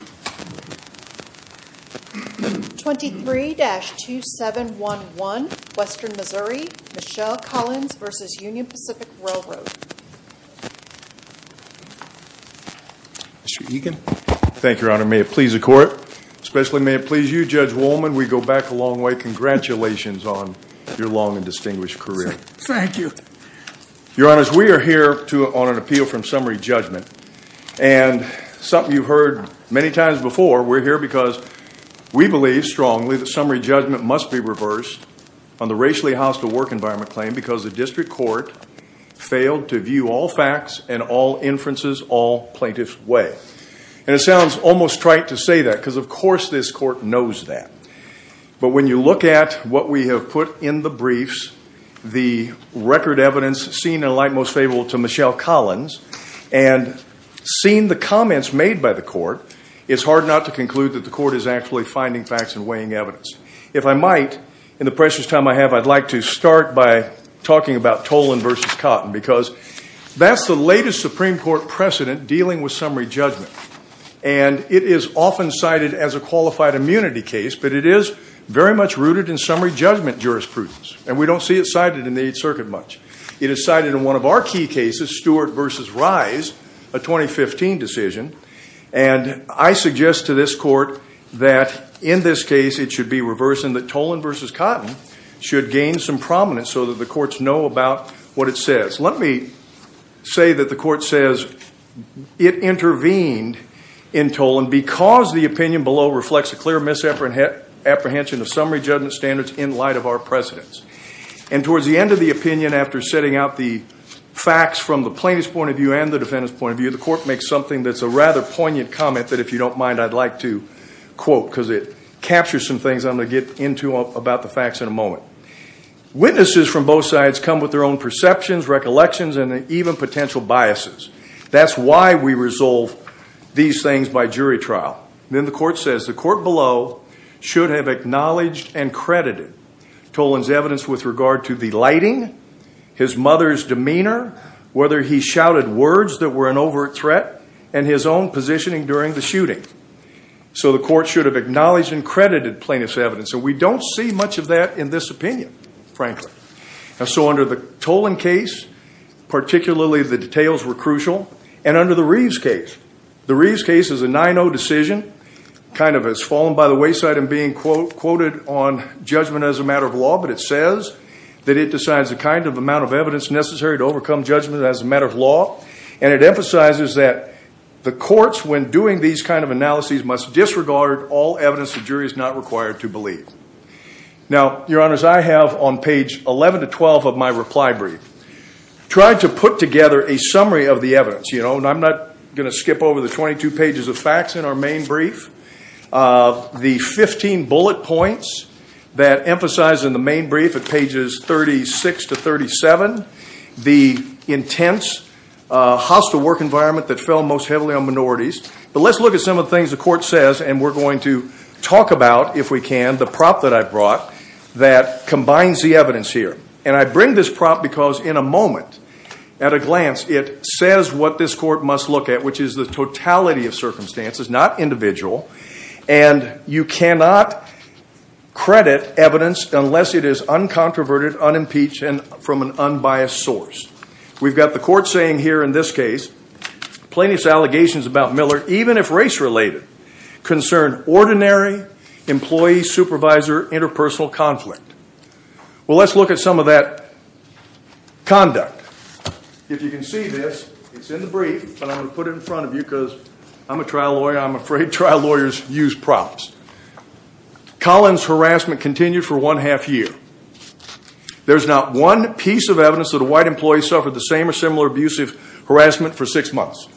23-2711 Western Missouri, Michelle Collins v. Union Pacific Railroad. Mr. Egan. Thank you, Your Honor. May it please the Court, especially may it please you, Judge Woolman, we go back a long way. Congratulations on your long and distinguished career. Thank you. Your Honor, we are here on an appeal from summary judgment and something you've heard many times before. We're here because we believe strongly that summary judgment must be reversed on the racially hostile work environment claim because the district court failed to view all facts and all inferences all plaintiff's way. And it sounds almost trite to say that because of course this court knows that. But when you look at what we have put in the briefs, the record evidence seen in a light most favorable to Michelle Collins, and seeing the comments made by the court, it's hard not to conclude that the court is actually finding facts and weighing evidence. If I might, in the precious time I have, I'd like to start by talking about Tolan v. Cotton because that's the latest Supreme Court precedent dealing with summary judgment. And it is often cited as a qualified immunity case, but it is very much rooted in summary judgment jurisprudence. And we don't see it cited in the Eighth Circuit much. It is cited in one of our key cases, Stewart v. Rise, a 2015 decision. And I suggest to this court that in this case it should be reversed and that Tolan v. Cotton should gain some prominence so that the courts know about what it says. Let me say that the court says it intervened in Tolan because the opinion below reflects a clear misapprehension of summary judgment standards in light of our precedents. And towards the end of the opinion, after setting out the facts from the plaintiff's point of view and the defendant's point of view, the court makes something that's a rather poignant comment that, if you don't mind, I'd like to quote because it captures some things I'm going to get into about the facts in a moment. Witnesses from both sides come with their own perceptions, recollections, and even potential biases. That's why we resolve these things by jury trial. Then the court says the court below should have acknowledged and credited Tolan's evidence with regard to the lighting, his mother's demeanor, whether he shouted words that were an overt threat, and his own positioning during the shooting. So the court should have acknowledged and credited plaintiff's evidence. And we don't see much of that in this opinion, frankly. So under the Tolan case, particularly the details were crucial. And under the Reeves case, the Reeves case is a 9-0 decision, kind of has fallen by the wayside in being quoted on judgment as a matter of law. But it says that it decides the kind of amount of evidence necessary to overcome judgment as a matter of law. And it emphasizes that the courts, when doing these kind of analyses, must disregard all evidence the jury is not required to believe. Now, Your Honors, I have on page 11 to 12 of my reply brief tried to put together a sequence. And I'm not going to skip over the 22 pages of facts in our main brief. The 15 bullet points that emphasize in the main brief at pages 36 to 37, the intense hostile work environment that fell most heavily on minorities. But let's look at some of the things the court says. And we're going to talk about, if we can, the prop that I brought that combines the evidence here. And I bring this prop because in a moment, at a glance, it says what this court must look at, which is the totality of circumstances, not individual. And you cannot credit evidence unless it is uncontroverted, unimpeached, and from an unbiased source. We've got the court saying here in this case, plaintiff's allegations about Miller, even if race-related, concern ordinary employee-supervisor interpersonal conflict. Well, let's look at some of that conduct. If you can see this, it's in the brief, but I'm going to put it in front of you because I'm a trial lawyer. I'm afraid trial lawyers use props. Collins' harassment continued for one half year. There's not one piece of evidence that a white employee suffered the same or similar abusive harassment for six months.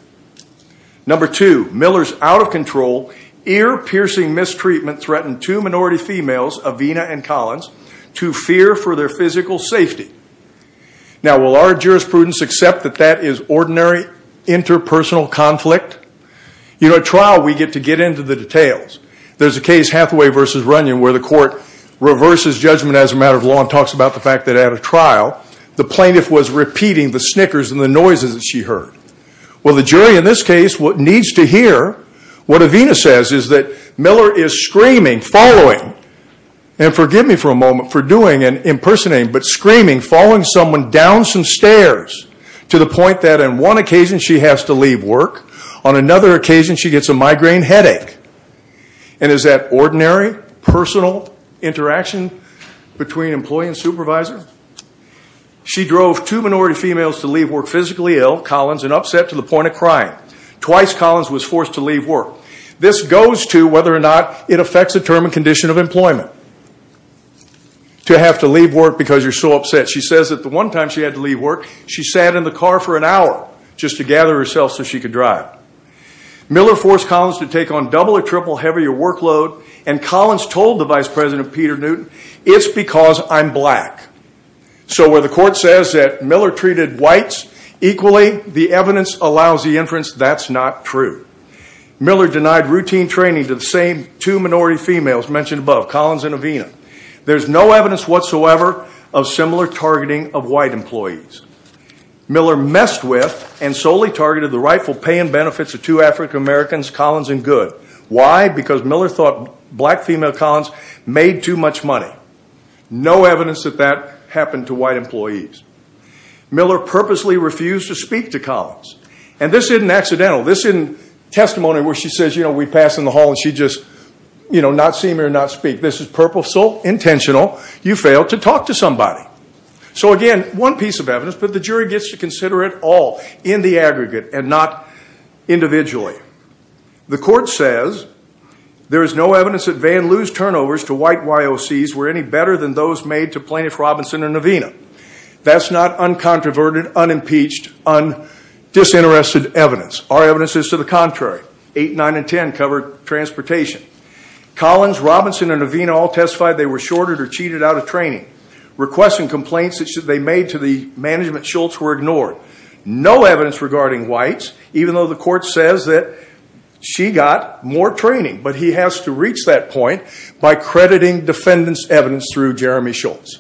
Number two, Miller's out of control, ear-piercing mistreatment threatened two minority females, Avena and Collins, to fear for their physical safety. Now will our jurisprudence accept that that is ordinary interpersonal conflict? You know, at trial, we get to get into the details. There's a case, Hathaway v. Runyon, where the court reverses judgment as a matter of law and talks about the fact that at a trial, the plaintiff was repeating the snickers and the noises that she heard. Well, the jury in this case, what needs to hear, what Avena says is that Miller is screaming, following, and forgive me for a moment for doing an impersonating, but screaming, following someone down some stairs to the point that on one occasion, she has to leave work. On another occasion, she gets a migraine headache. And is that ordinary personal interaction between employee and supervisor? She drove two minority females to leave work physically ill, Collins, and upset to the point of crying. Twice, Collins was forced to leave work. This goes to whether or not it affects the term and condition of employment, to have to leave work because you're so upset. She says that the one time she had to leave work, she sat in the car for an hour just to gather herself so she could drive. Miller forced Collins to take on double or triple heavier workload, and Collins told the vice president, Peter Newton, it's because I'm black. So where the court says that Miller treated whites equally, the evidence allows the inference that's not true. Miller denied routine training to the same two minority females mentioned above, Collins and Avena. There's no evidence whatsoever of similar targeting of white employees. Miller messed with and solely targeted the rightful pay and benefits of two African Americans, Collins and Good. Why? Because Miller thought black female Collins made too much money. No evidence that that happened to white employees. Miller purposely refused to speak to Collins. And this isn't accidental. This isn't testimony where she says, you know, we pass in the hall and she just, you know, not see me or not speak. This is purposeful, intentional. You failed to talk to somebody. So again, one piece of evidence, but the jury gets to consider it all in the aggregate and not individually. The court says there is no evidence that Van Loo's turnovers to white YOCs were any better than those made to Plaintiff Robinson and Avena. That's not uncontroverted, unimpeached, undisinterested evidence. Our evidence is to the contrary. 8, 9, and 10 covered transportation. Collins, Robinson, and Avena all testified they were shorted or cheated out of training. Requests and complaints that they made to the management Schultz were ignored. No evidence regarding whites, even though the court says that she got more training. But he has to reach that point by crediting defendants' evidence through Jeremy Schultz.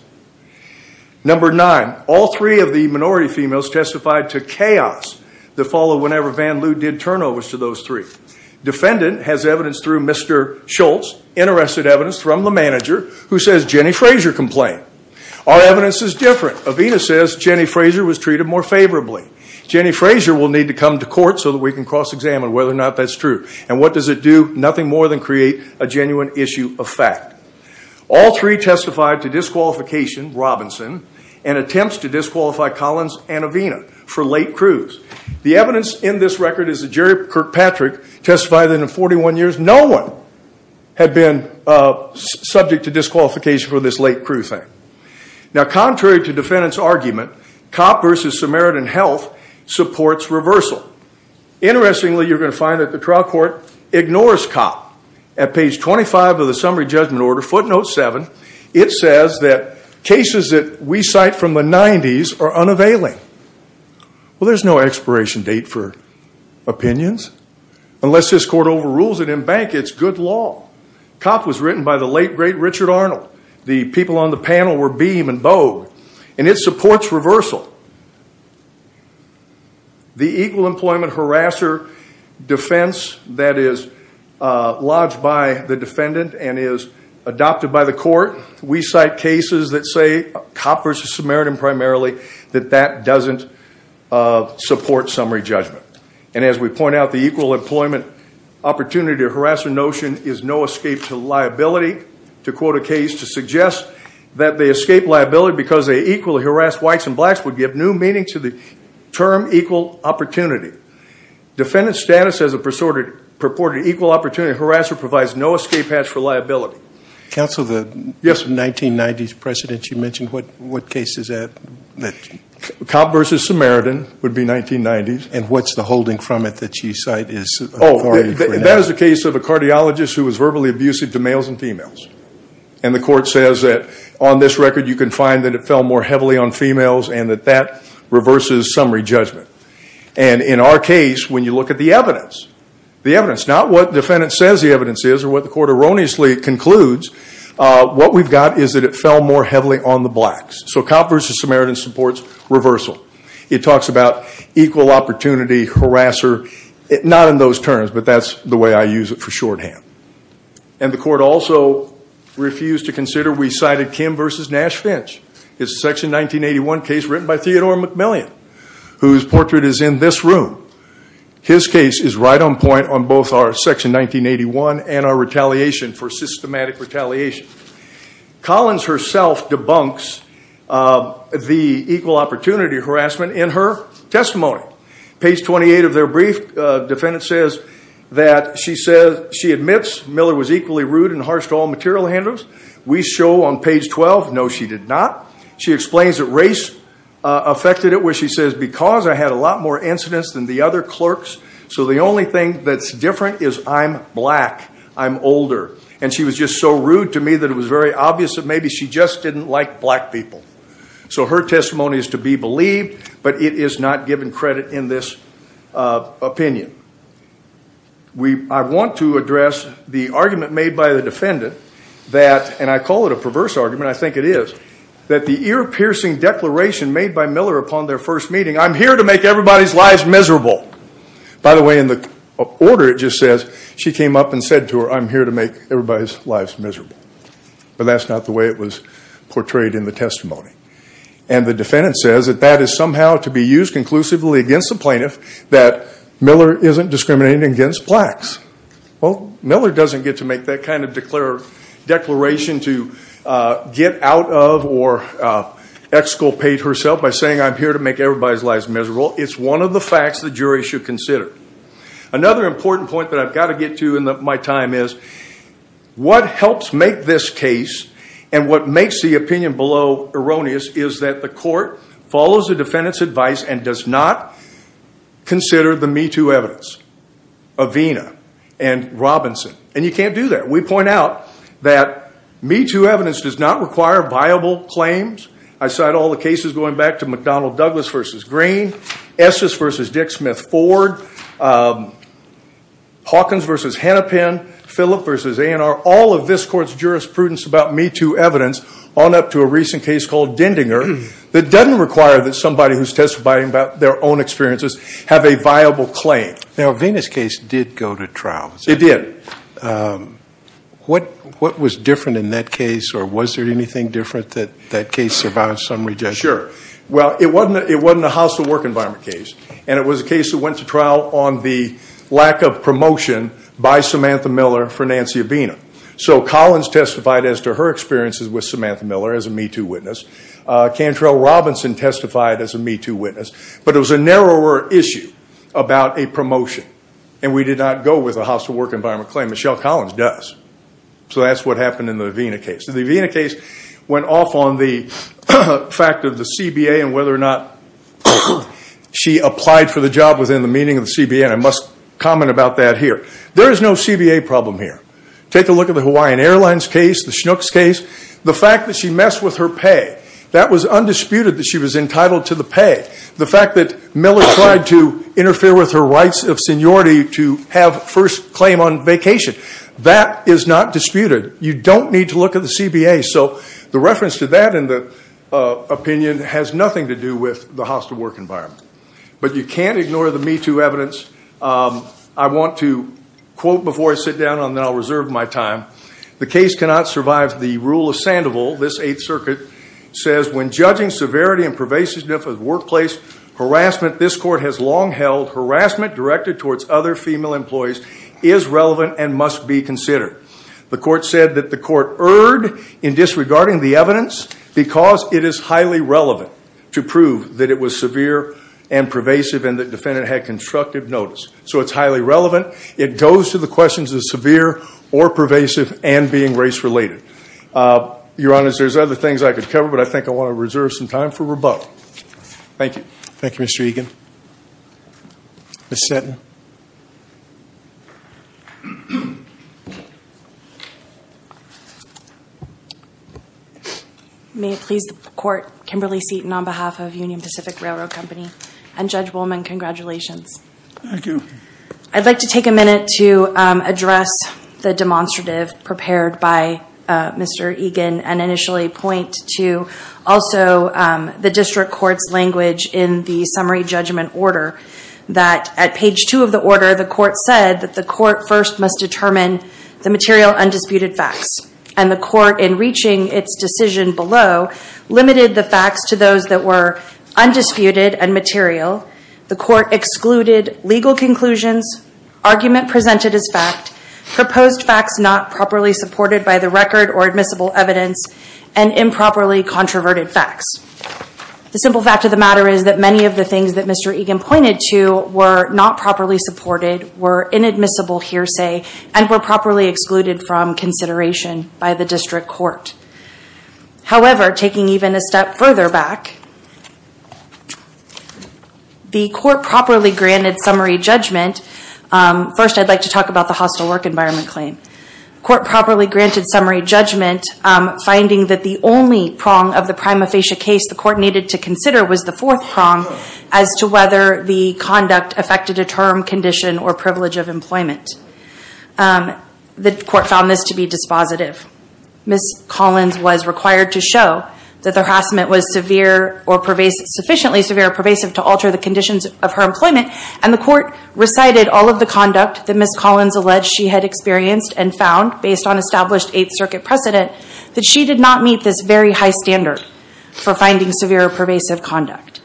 Number nine, all three of the minority females testified to chaos that followed whenever Van Loo did turnovers to those three. Defendant has evidence through Mr. Schultz, interested evidence from the manager who says Jenny Frazier complained. Our evidence is different. Avena says Jenny Frazier was treated more favorably. Jenny Frazier will need to come to court so that we can cross-examine whether or not that's true. And what does it do? Nothing more than create a genuine issue of fact. All three testified to disqualification, Robinson, and attempts to disqualify Collins and Avena for late crews. The evidence in this record is that Jerry Kirkpatrick testified that in 41 years no one had been subject to disqualification for this late crew thing. Now contrary to defendant's argument, Copp versus Samaritan Health supports reversal. Interestingly, you're going to find that the trial court ignores Copp. At page 25 of the summary judgment order, footnote 7, it says that cases that we cite from the 90s are unavailing. Well, there's no expiration date for opinions unless this court overrules it in bank. It's good law. Copp was written by the late, great Richard Arnold. The people on the panel were Beam and Bogue. And it supports reversal. So the equal employment harasser defense that is lodged by the defendant and is adopted by the court, we cite cases that say, Copp versus Samaritan primarily, that that doesn't support summary judgment. And as we point out, the equal employment opportunity or harasser notion is no escape to liability. To quote a case to suggest that they escape liability because they equally harass whites and blacks would give new meaning to the term equal opportunity. Defendant's status as a purported equal opportunity harasser provides no escape hatch for liability. Counsel, the 1990s precedent you mentioned, what case is that? Copp versus Samaritan would be 1990s. And what's the holding from it that you cite is? Oh, that is a case of a cardiologist who was verbally abusive to males and females. And the court says that on this record, you can find that it fell more heavily on females and that that reverses summary judgment. And in our case, when you look at the evidence, the evidence, not what defendant says the evidence is or what the court erroneously concludes, what we've got is that it fell more heavily on the blacks. So Copp versus Samaritan supports reversal. It talks about equal opportunity harasser, not in those terms, but that's the way I use it for shorthand. And the court also refused to consider, we cited Kim versus Nash-Finch. It's a section 1981 case written by Theodore McMillian, whose portrait is in this room. His case is right on point on both our section 1981 and our retaliation for systematic retaliation. Collins herself debunks the equal opportunity harassment in her testimony. Page 28 of their brief, defendant says that she admits Miller was equally rude and harsh to all material handlers. We show on page 12, no, she did not. She explains that race affected it where she says, because I had a lot more incidents than the other clerks. So the only thing that's different is I'm black, I'm older. And she was just so rude to me that it was very obvious that maybe she just didn't like black people. So her testimony is to be believed, but it is not given credit in this opinion. I want to address the argument made by the defendant that, and I call it a perverse argument, I think it is, that the ear-piercing declaration made by Miller upon their first meeting, I'm here to make everybody's lives miserable. By the way, in the order it just says, she came up and said to her, I'm here to make everybody's lives miserable. But that's not the way it was portrayed in the testimony. And the defendant says that that is somehow to be used conclusively against the plaintiff that Miller isn't discriminating against blacks. Well, Miller doesn't get to make that kind of declaration to get out of or exculpate herself by saying I'm here to make everybody's lives miserable. It's one of the facts the jury should consider. Another important point that I've got to get to in my time is, what helps make this case and what makes the opinion below erroneous is that the court follows the defendant's advice and does not consider the Me Too evidence of Vena and Robinson. And you can't do that. We point out that Me Too evidence does not require viable claims. I cite all the cases going back to McDonnell Douglas versus Green, Estes versus Dick Smith Ford, Hawkins versus Hennepin, Phillip versus A&R, all of this court's jurisprudence about Me Too evidence on up to a recent case called Dendinger that doesn't require that somebody who's testifying about their own experiences have a viable claim. Now, Vena's case did go to trial. It did. What was different in that case or was there anything different that that case survived some rejection? Sure. Well, it wasn't a hostile work environment case and it was a case that went to trial on the lack of promotion by Samantha Miller for Nancy or Vena. So Collins testified as to her experiences with Samantha Miller as a Me Too witness. Cantrell Robinson testified as a Me Too witness. But it was a narrower issue about a promotion and we did not go with a hostile work environment claim. Michelle Collins does. So that's what happened in the Vena case. The Vena case went off on the fact of the CBA and whether or not she applied for the job within the meaning of the CBA and I must comment about that here. There is no CBA problem here. Take a look at the Hawaiian Airlines case, the Schnucks case, the fact that she messed with her pay. That was undisputed that she was entitled to the pay. The fact that Miller tried to interfere with her rights of seniority to have first claim on vacation. That is not disputed. You don't need to look at the CBA. So the reference to that in the opinion has nothing to do with the hostile work environment. But you can't ignore the Me Too evidence. I want to quote before I sit down and then I'll reserve my time. The case cannot survive the rule of Sandoval. This Eighth Circuit says, when judging severity and pervasiveness of workplace harassment, defendant, this court has long held harassment directed towards other female employees is relevant and must be considered. The court said that the court erred in disregarding the evidence because it is highly relevant to prove that it was severe and pervasive and the defendant had constructive notice. So it's highly relevant. It goes to the questions of severe or pervasive and being race related. Your Honor, there's other things I could cover, but I think I want to reserve some time for Rabeau. Thank you. Thank you, Mr. Egan. Ms. Setton. May it please the court, Kimberly Seton on behalf of Union Pacific Railroad Company and Judge Wollman, congratulations. Thank you. I'd like to take a minute to address the demonstrative prepared by Mr. Egan and initially point to also the district court's language in the summary judgment order that at page two of the order, the court said that the court first must determine the material undisputed facts. And the court, in reaching its decision below, limited the facts to those that were undisputed and material. The court excluded legal conclusions, argument presented as fact, proposed facts not properly supported by the record or admissible evidence, and improperly controverted facts. The simple fact of the matter is that many of the things that Mr. Egan pointed to were not properly supported, were inadmissible hearsay, and were properly excluded from consideration by the district court. However, taking even a step further back, the court properly granted summary judgment. First I'd like to talk about the hostile work environment claim. Court properly granted summary judgment, finding that the only prong of the prima facie case the court needed to consider was the fourth prong as to whether the conduct affected a term, condition, or privilege of employment. The court found this to be dispositive. Ms. Collins was required to show that the harassment was sufficiently severe or pervasive to alter the conditions of her employment, and the court recited all of the conduct that and found, based on established Eighth Circuit precedent, that she did not meet this very high standard for finding severe or pervasive conduct.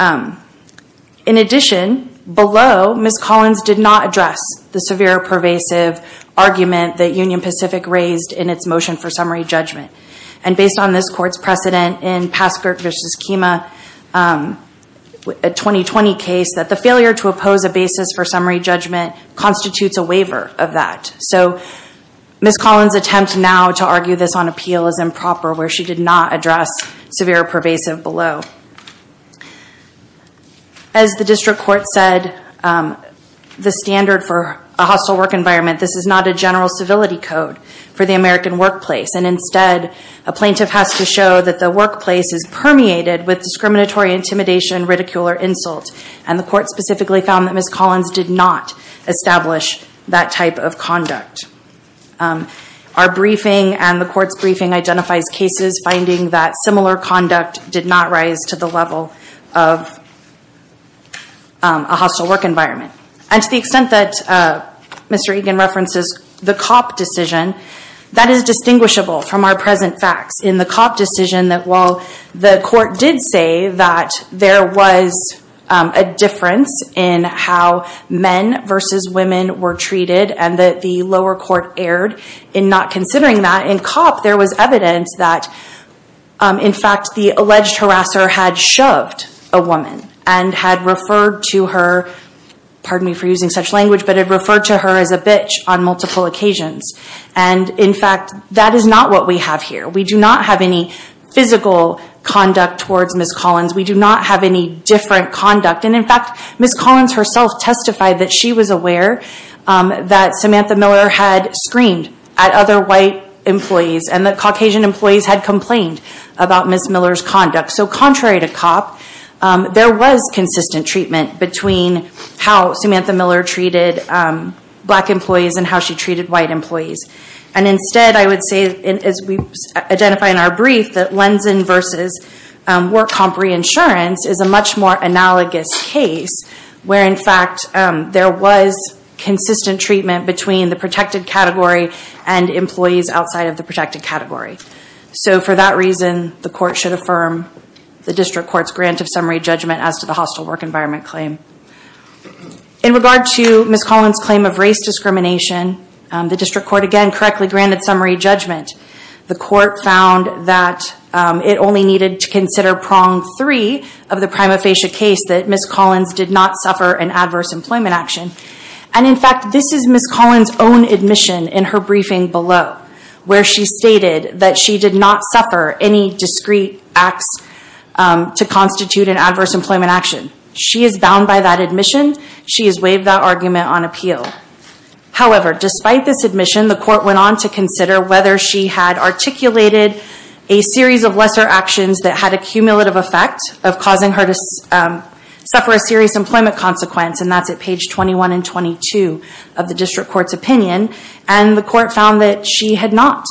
In addition, below, Ms. Collins did not address the severe or pervasive argument that Union Pacific raised in its motion for summary judgment. And based on this court's precedent in Passkirk v. Kima, a 2020 case, that the failure to oppose a basis for summary judgment constitutes a waiver of that. So Ms. Collins' attempt now to argue this on appeal is improper, where she did not address severe or pervasive below. As the district court said, the standard for a hostile work environment, this is not a general civility code for the American workplace, and instead a plaintiff has to show that the workplace is permeated with discriminatory intimidation, ridicule, or insult. And the court specifically found that Ms. Collins did not establish that type of conduct. Our briefing and the court's briefing identifies cases finding that similar conduct did not rise to the level of a hostile work environment. And to the extent that Mr. Egan references the COP decision, that is distinguishable from our present facts in the COP decision that while the court did say that there was a difference in how men versus women were treated and that the lower court erred in not considering that, in COP there was evidence that, in fact, the alleged harasser had shoved a woman and had referred to her, pardon me for using such language, but had referred to her as a bitch on multiple occasions. And, in fact, that is not what we have here. We do not have any physical conduct towards Ms. Collins. We do not have any different conduct, and in fact, Ms. Collins herself testified that she was aware that Samantha Miller had screamed at other white employees and that Caucasian employees had complained about Ms. Miller's conduct. So contrary to COP, there was consistent treatment between how Samantha Miller treated black employees. And, instead, I would say, as we identify in our brief, that Lenzen versus WorkComp Reinsurance is a much more analogous case where, in fact, there was consistent treatment between the protected category and employees outside of the protected category. So for that reason, the court should affirm the district court's grant of summary judgment as to the hostile work environment claim. In regard to Ms. Collins' claim of race discrimination, the district court, again, correctly granted summary judgment. The court found that it only needed to consider prong three of the prima facie case that Ms. Collins did not suffer an adverse employment action. And, in fact, this is Ms. Collins' own admission in her briefing below, where she stated that she did not suffer any discreet acts to constitute an adverse employment action. She is bound by that admission. She has waived that argument on appeal. However, despite this admission, the court went on to consider whether she had articulated a series of lesser actions that had a cumulative effect of causing her to suffer a serious employment consequence. And that's at page 21 and 22 of the district court's opinion. And the court found that she had not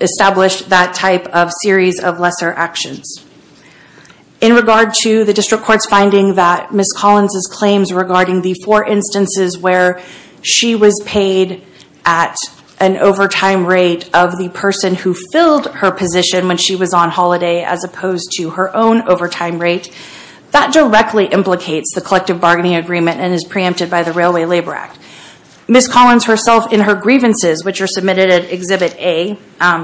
established that type of series of lesser actions. In regard to the district court's finding that Ms. Collins' claims regarding the four instances where she was paid at an overtime rate of the person who filled her position when she was on holiday, as opposed to her own overtime rate, that directly implicates the collective bargaining agreement and is preempted by the Railway Labor Act. Ms. Collins herself, in her grievances, which are submitted at Exhibit A,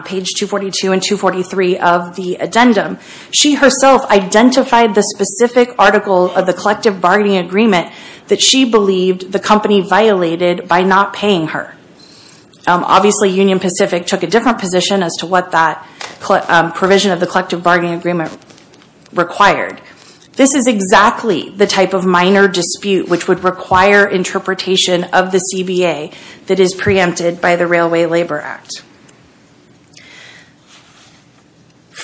page 242 and 243 of the addendum, she herself identified the specific article of the collective bargaining agreement that she believed the company violated by not paying her. Obviously, Union Pacific took a different position as to what that provision of the collective bargaining agreement required. This is exactly the type of minor dispute which would require interpretation of the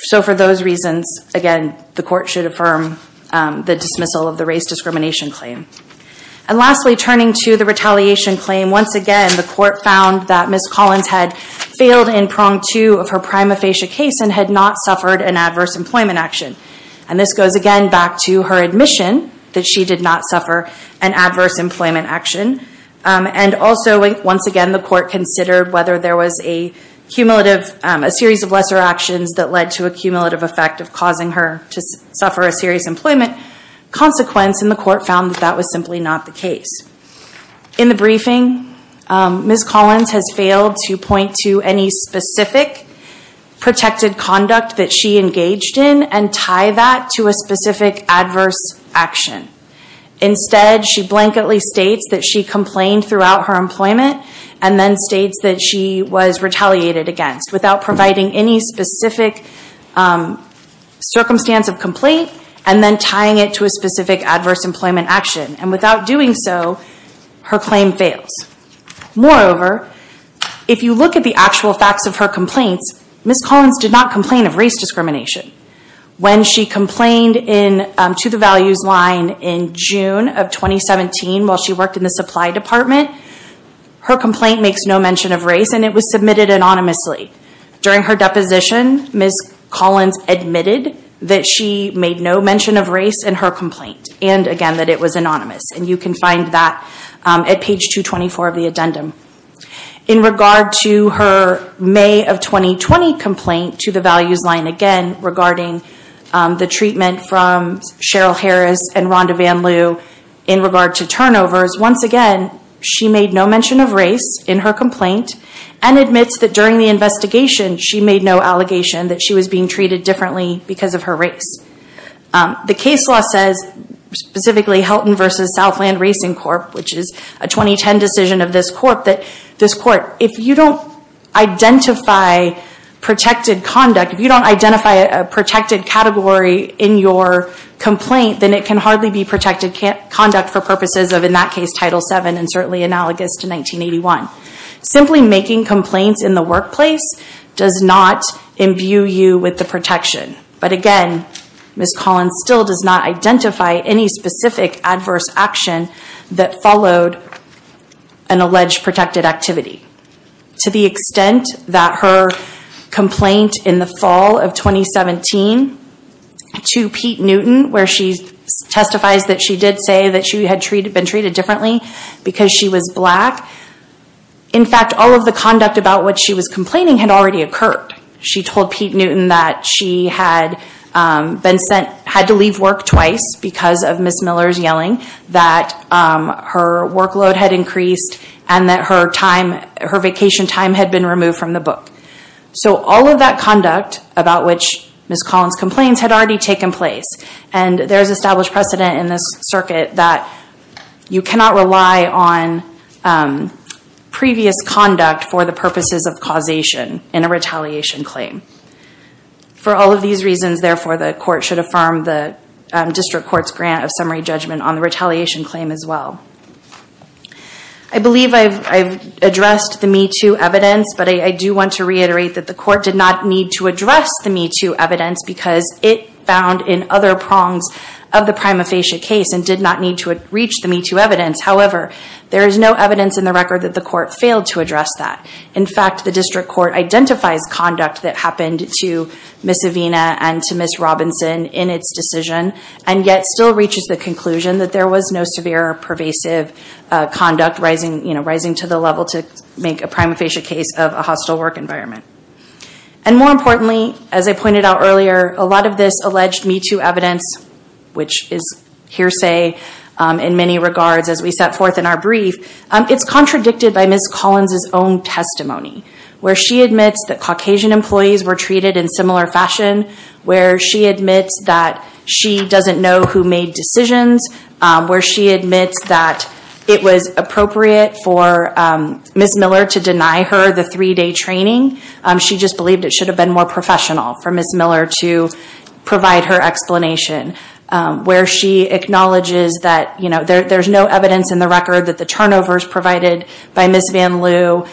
So for those reasons, again, the court should affirm the dismissal of the race discrimination claim. And lastly, turning to the retaliation claim, once again, the court found that Ms. Collins had failed in prong two of her prima facie case and had not suffered an adverse employment action. And this goes again back to her admission that she did not suffer an adverse employment action. And also, once again, the court considered whether there was a cumulative, a series of cases that led to a cumulative effect of causing her to suffer a serious employment consequence. And the court found that that was simply not the case. In the briefing, Ms. Collins has failed to point to any specific protected conduct that she engaged in and tie that to a specific adverse action. Instead, she blanketly states that she complained throughout her employment and then states that she was retaliated against without providing any specific circumstance of complaint and then tying it to a specific adverse employment action. And without doing so, her claim fails. Moreover, if you look at the actual facts of her complaints, Ms. Collins did not complain of race discrimination. When she complained to the values line in June of 2017 while she worked in the supply department, her complaint makes no mention of race and it was submitted anonymously. During her deposition, Ms. Collins admitted that she made no mention of race in her complaint and again that it was anonymous. You can find that at page 224 of the addendum. In regard to her May of 2020 complaint to the values line, again regarding the treatment from Cheryl Harris and Rhonda Van Loo in regard to turnovers, once again she made no mention of race in her complaint and admits that during the investigation she made no allegation that she was being treated differently because of her race. The case law says, specifically Helton v. Southland Racing Corp., which is a 2010 decision of this court, that this court, if you don't identify protected conduct, if you don't identify a protected category in your complaint, then it can hardly be protected conduct for purposes of in that case Title VII and certainly analogous to 1981. Simply making complaints in the workplace does not imbue you with the protection. But again, Ms. Collins still does not identify any specific adverse action that followed an alleged protected activity. To the extent that her complaint in the fall of 2017 to Pete Newton, where she testifies that she did say that she had been treated differently because she was black, in fact all of the conduct about what she was complaining had already occurred. She told Pete Newton that she had been sent, had to leave work twice because of Ms. Miller's time, her vacation time had been removed from the book. So all of that conduct about which Ms. Collins complains had already taken place and there is established precedent in this circuit that you cannot rely on previous conduct for the purposes of causation in a retaliation claim. For all of these reasons, therefore, the court should affirm the district court's grant of summary judgment on the retaliation claim as well. I believe I've addressed the Me Too evidence, but I do want to reiterate that the court did not need to address the Me Too evidence because it found in other prongs of the prima facie case and did not need to reach the Me Too evidence. However, there is no evidence in the record that the court failed to address that. In fact, the district court identifies conduct that happened to Ms. Avena and to Ms. Robinson in its decision and yet still reaches the conclusion that there was no severe or pervasive conduct rising to the level to make a prima facie case of a hostile work environment. And more importantly, as I pointed out earlier, a lot of this alleged Me Too evidence, which is hearsay in many regards as we set forth in our brief, it's contradicted by Ms. Collins's own testimony where she admits that Caucasian employees were treated in similar fashion, where she admits that she doesn't know who made decisions, where she admits that it was appropriate for Ms. Miller to deny her the three-day training. She just believed it should have been more professional for Ms. Miller to provide her explanation where she acknowledges that there's no evidence in the record that the turnovers provided by Ms. Van Loo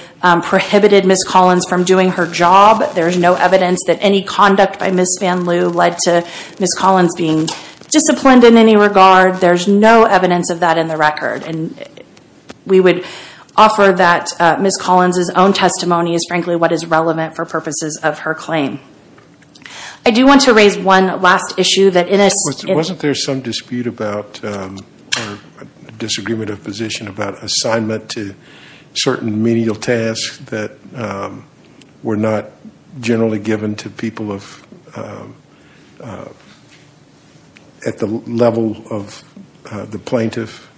prohibited Ms. Collins from doing her job. There's no evidence that any conduct by Ms. Van Loo led to Ms. Collins being disciplined in any regard. There's no evidence of that in the record. We would offer that Ms. Collins's own testimony is frankly what is relevant for purposes of her claim. I do want to raise one last issue that in a- Wasn't there some dispute about or disagreement of position about assignment to certain menial tasks that were not generally given to people at the level of the plaintiff?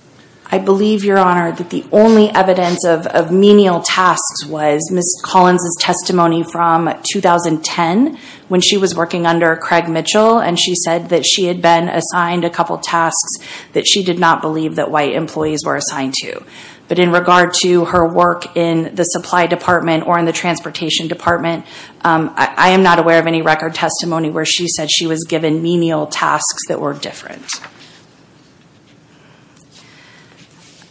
I believe, Your Honor, that the only evidence of menial tasks was Ms. Collins's testimony from 2010 when she was working under Craig Mitchell and she said that she had been assigned a couple tasks that she did not believe that white employees were assigned to. In regard to her work in the supply department or in the transportation department, I am not aware of any record testimony where she said she was given menial tasks that were different.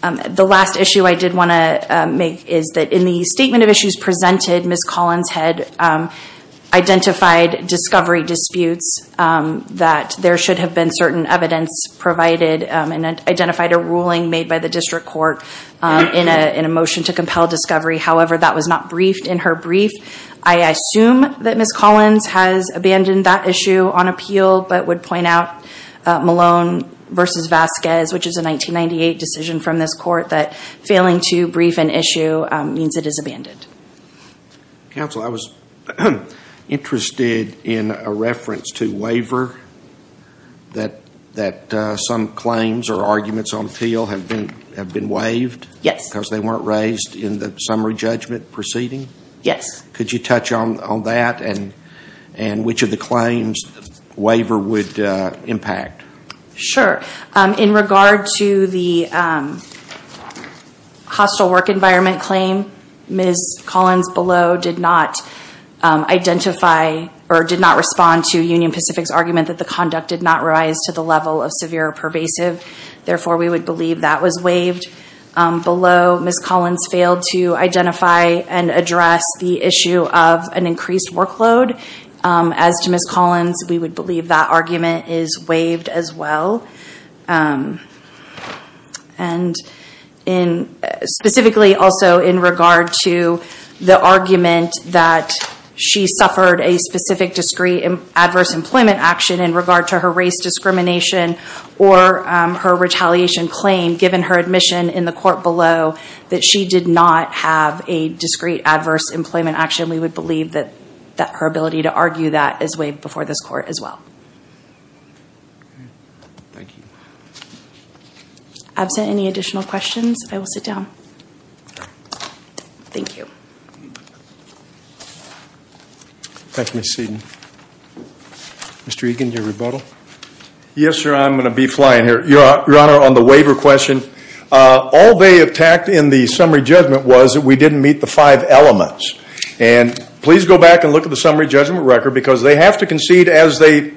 The last issue I did want to make is that in the statement of issues presented, Ms. Collins had identified discovery disputes that there should have been certain evidence provided and identified a ruling made by the district court in a motion to compel discovery. However, that was not briefed in her brief. I assume that Ms. Collins has abandoned that issue on appeal but would point out Malone versus Vasquez, which is a 1998 decision from this court that failing to brief an issue means it is abandoned. Counsel, I was interested in a reference to waiver that some claims or arguments on appeal have been waived because they were not raised in the summary judgment proceeding. Could you touch on that and which of the claims waiver would impact? Sure. In regard to the hostile work environment claim, Ms. Collins below did not identify or did not respond to Union Pacific's argument that the conduct did not rise to the level of severe or pervasive. Therefore, we would believe that was waived. Below Ms. Collins failed to identify and address the issue of an increased workload. As to Ms. Collins, we would believe that argument is waived as well. Specifically also in regard to the argument that she suffered a specific discrete adverse employment action in regard to her race discrimination or her retaliation claim given her admission in the court below that she did not have a discrete adverse employment action, we would believe that her ability to argue that is waived before this court as well. Absent any additional questions, I will sit down. Thank you. Yes, sir, I'm going to be flying here. Your Honor, on the waiver question, all they attacked in the summary judgment was we didn't meet the five elements. And please go back and look at the summary judgment record because they have to concede as they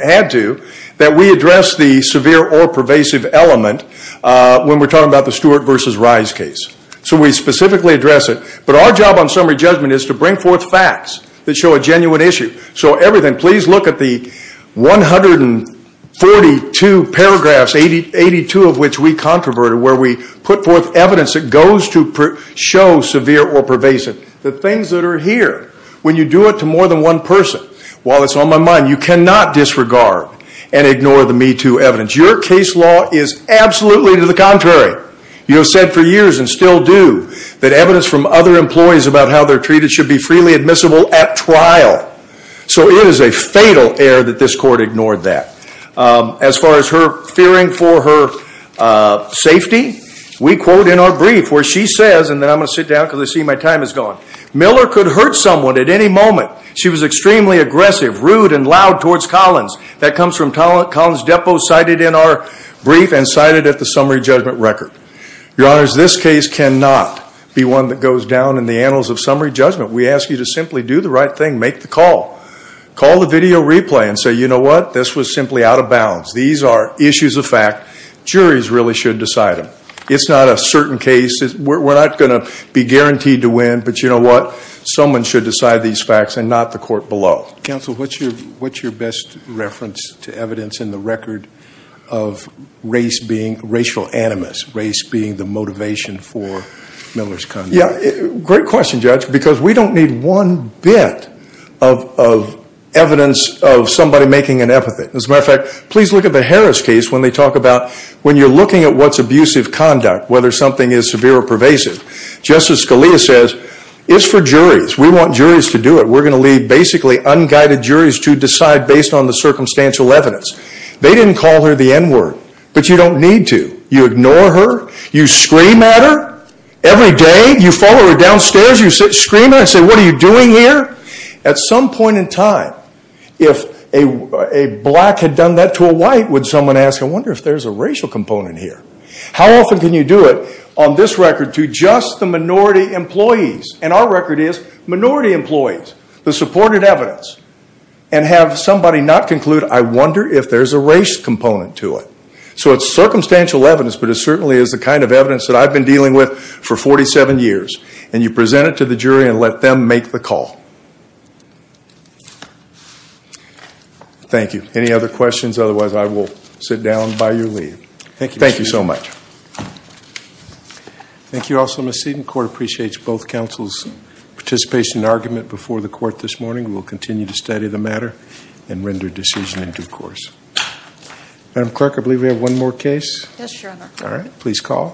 had to that we address the severe or pervasive element when we're talking about the Stewart versus Rice case. So we specifically address it. But our job on summary judgment is to bring forth facts that show a genuine issue. So everything, please look at the 142 paragraphs, 82 of which we controverted where we put forth evidence that goes to show severe or pervasive, the things that are here. When you do it to more than one person, while it's on my mind, you cannot disregard and ignore the Me Too evidence. Your case law is absolutely to the contrary. You have said for years and still do that evidence from other employees about how they're treated should be freely admissible at trial. So it is a fatal error that this court ignored that. As far as her fearing for her safety, we quote in our brief where she says, and then I'm going to sit down because I see my time is gone, Miller could hurt someone at any moment. She was extremely aggressive, rude, and loud towards Collins. That comes from Collins' depo cited in our brief and cited at the summary judgment record. Your honors, this case cannot be one that goes down in the annals of summary judgment. We ask you to simply do the right thing, make the call, call the video replay and say, you know what, this was simply out of bounds. These are issues of fact, juries really should decide them. It's not a certain case, we're not going to be guaranteed to win, but you know what, someone should decide these facts and not the court below. Counsel, what's your best reference to evidence in the record of race being racial animus, race being the motivation for Miller's conduct? Yeah, great question judge, because we don't need one bit of evidence of somebody making an epithet. As a matter of fact, please look at the Harris case when they talk about when you're looking at what's abusive conduct, whether something is severe or pervasive. Justice Scalia says, it's for juries, we want juries to do it. We're going to leave basically unguided juries to decide based on the circumstantial evidence. They didn't call her the N word, but you don't need to. You ignore her, you scream at her every day, you follow her downstairs, you sit screaming and say, what are you doing here? At some point in time, if a black had done that to a white, would someone ask, I wonder if there's a racial component here? How often can you do it on this record to just the minority employees, and our record is minority employees, the supported evidence, and have somebody not conclude, I wonder if there's a race component to it? So it's circumstantial evidence, but it certainly is the kind of evidence that I've been dealing with for 47 years, and you present it to the jury and let them make the call. Thank you. Any other questions? Otherwise, I will sit down by your leave. Thank you so much. Thank you also, Ms. Seaton. The court appreciates both counsel's participation and argument before the court this morning. We will continue to study the matter and render decision in due course. Madam Clerk, I believe we have one more case. Yes, Your Honor. All right.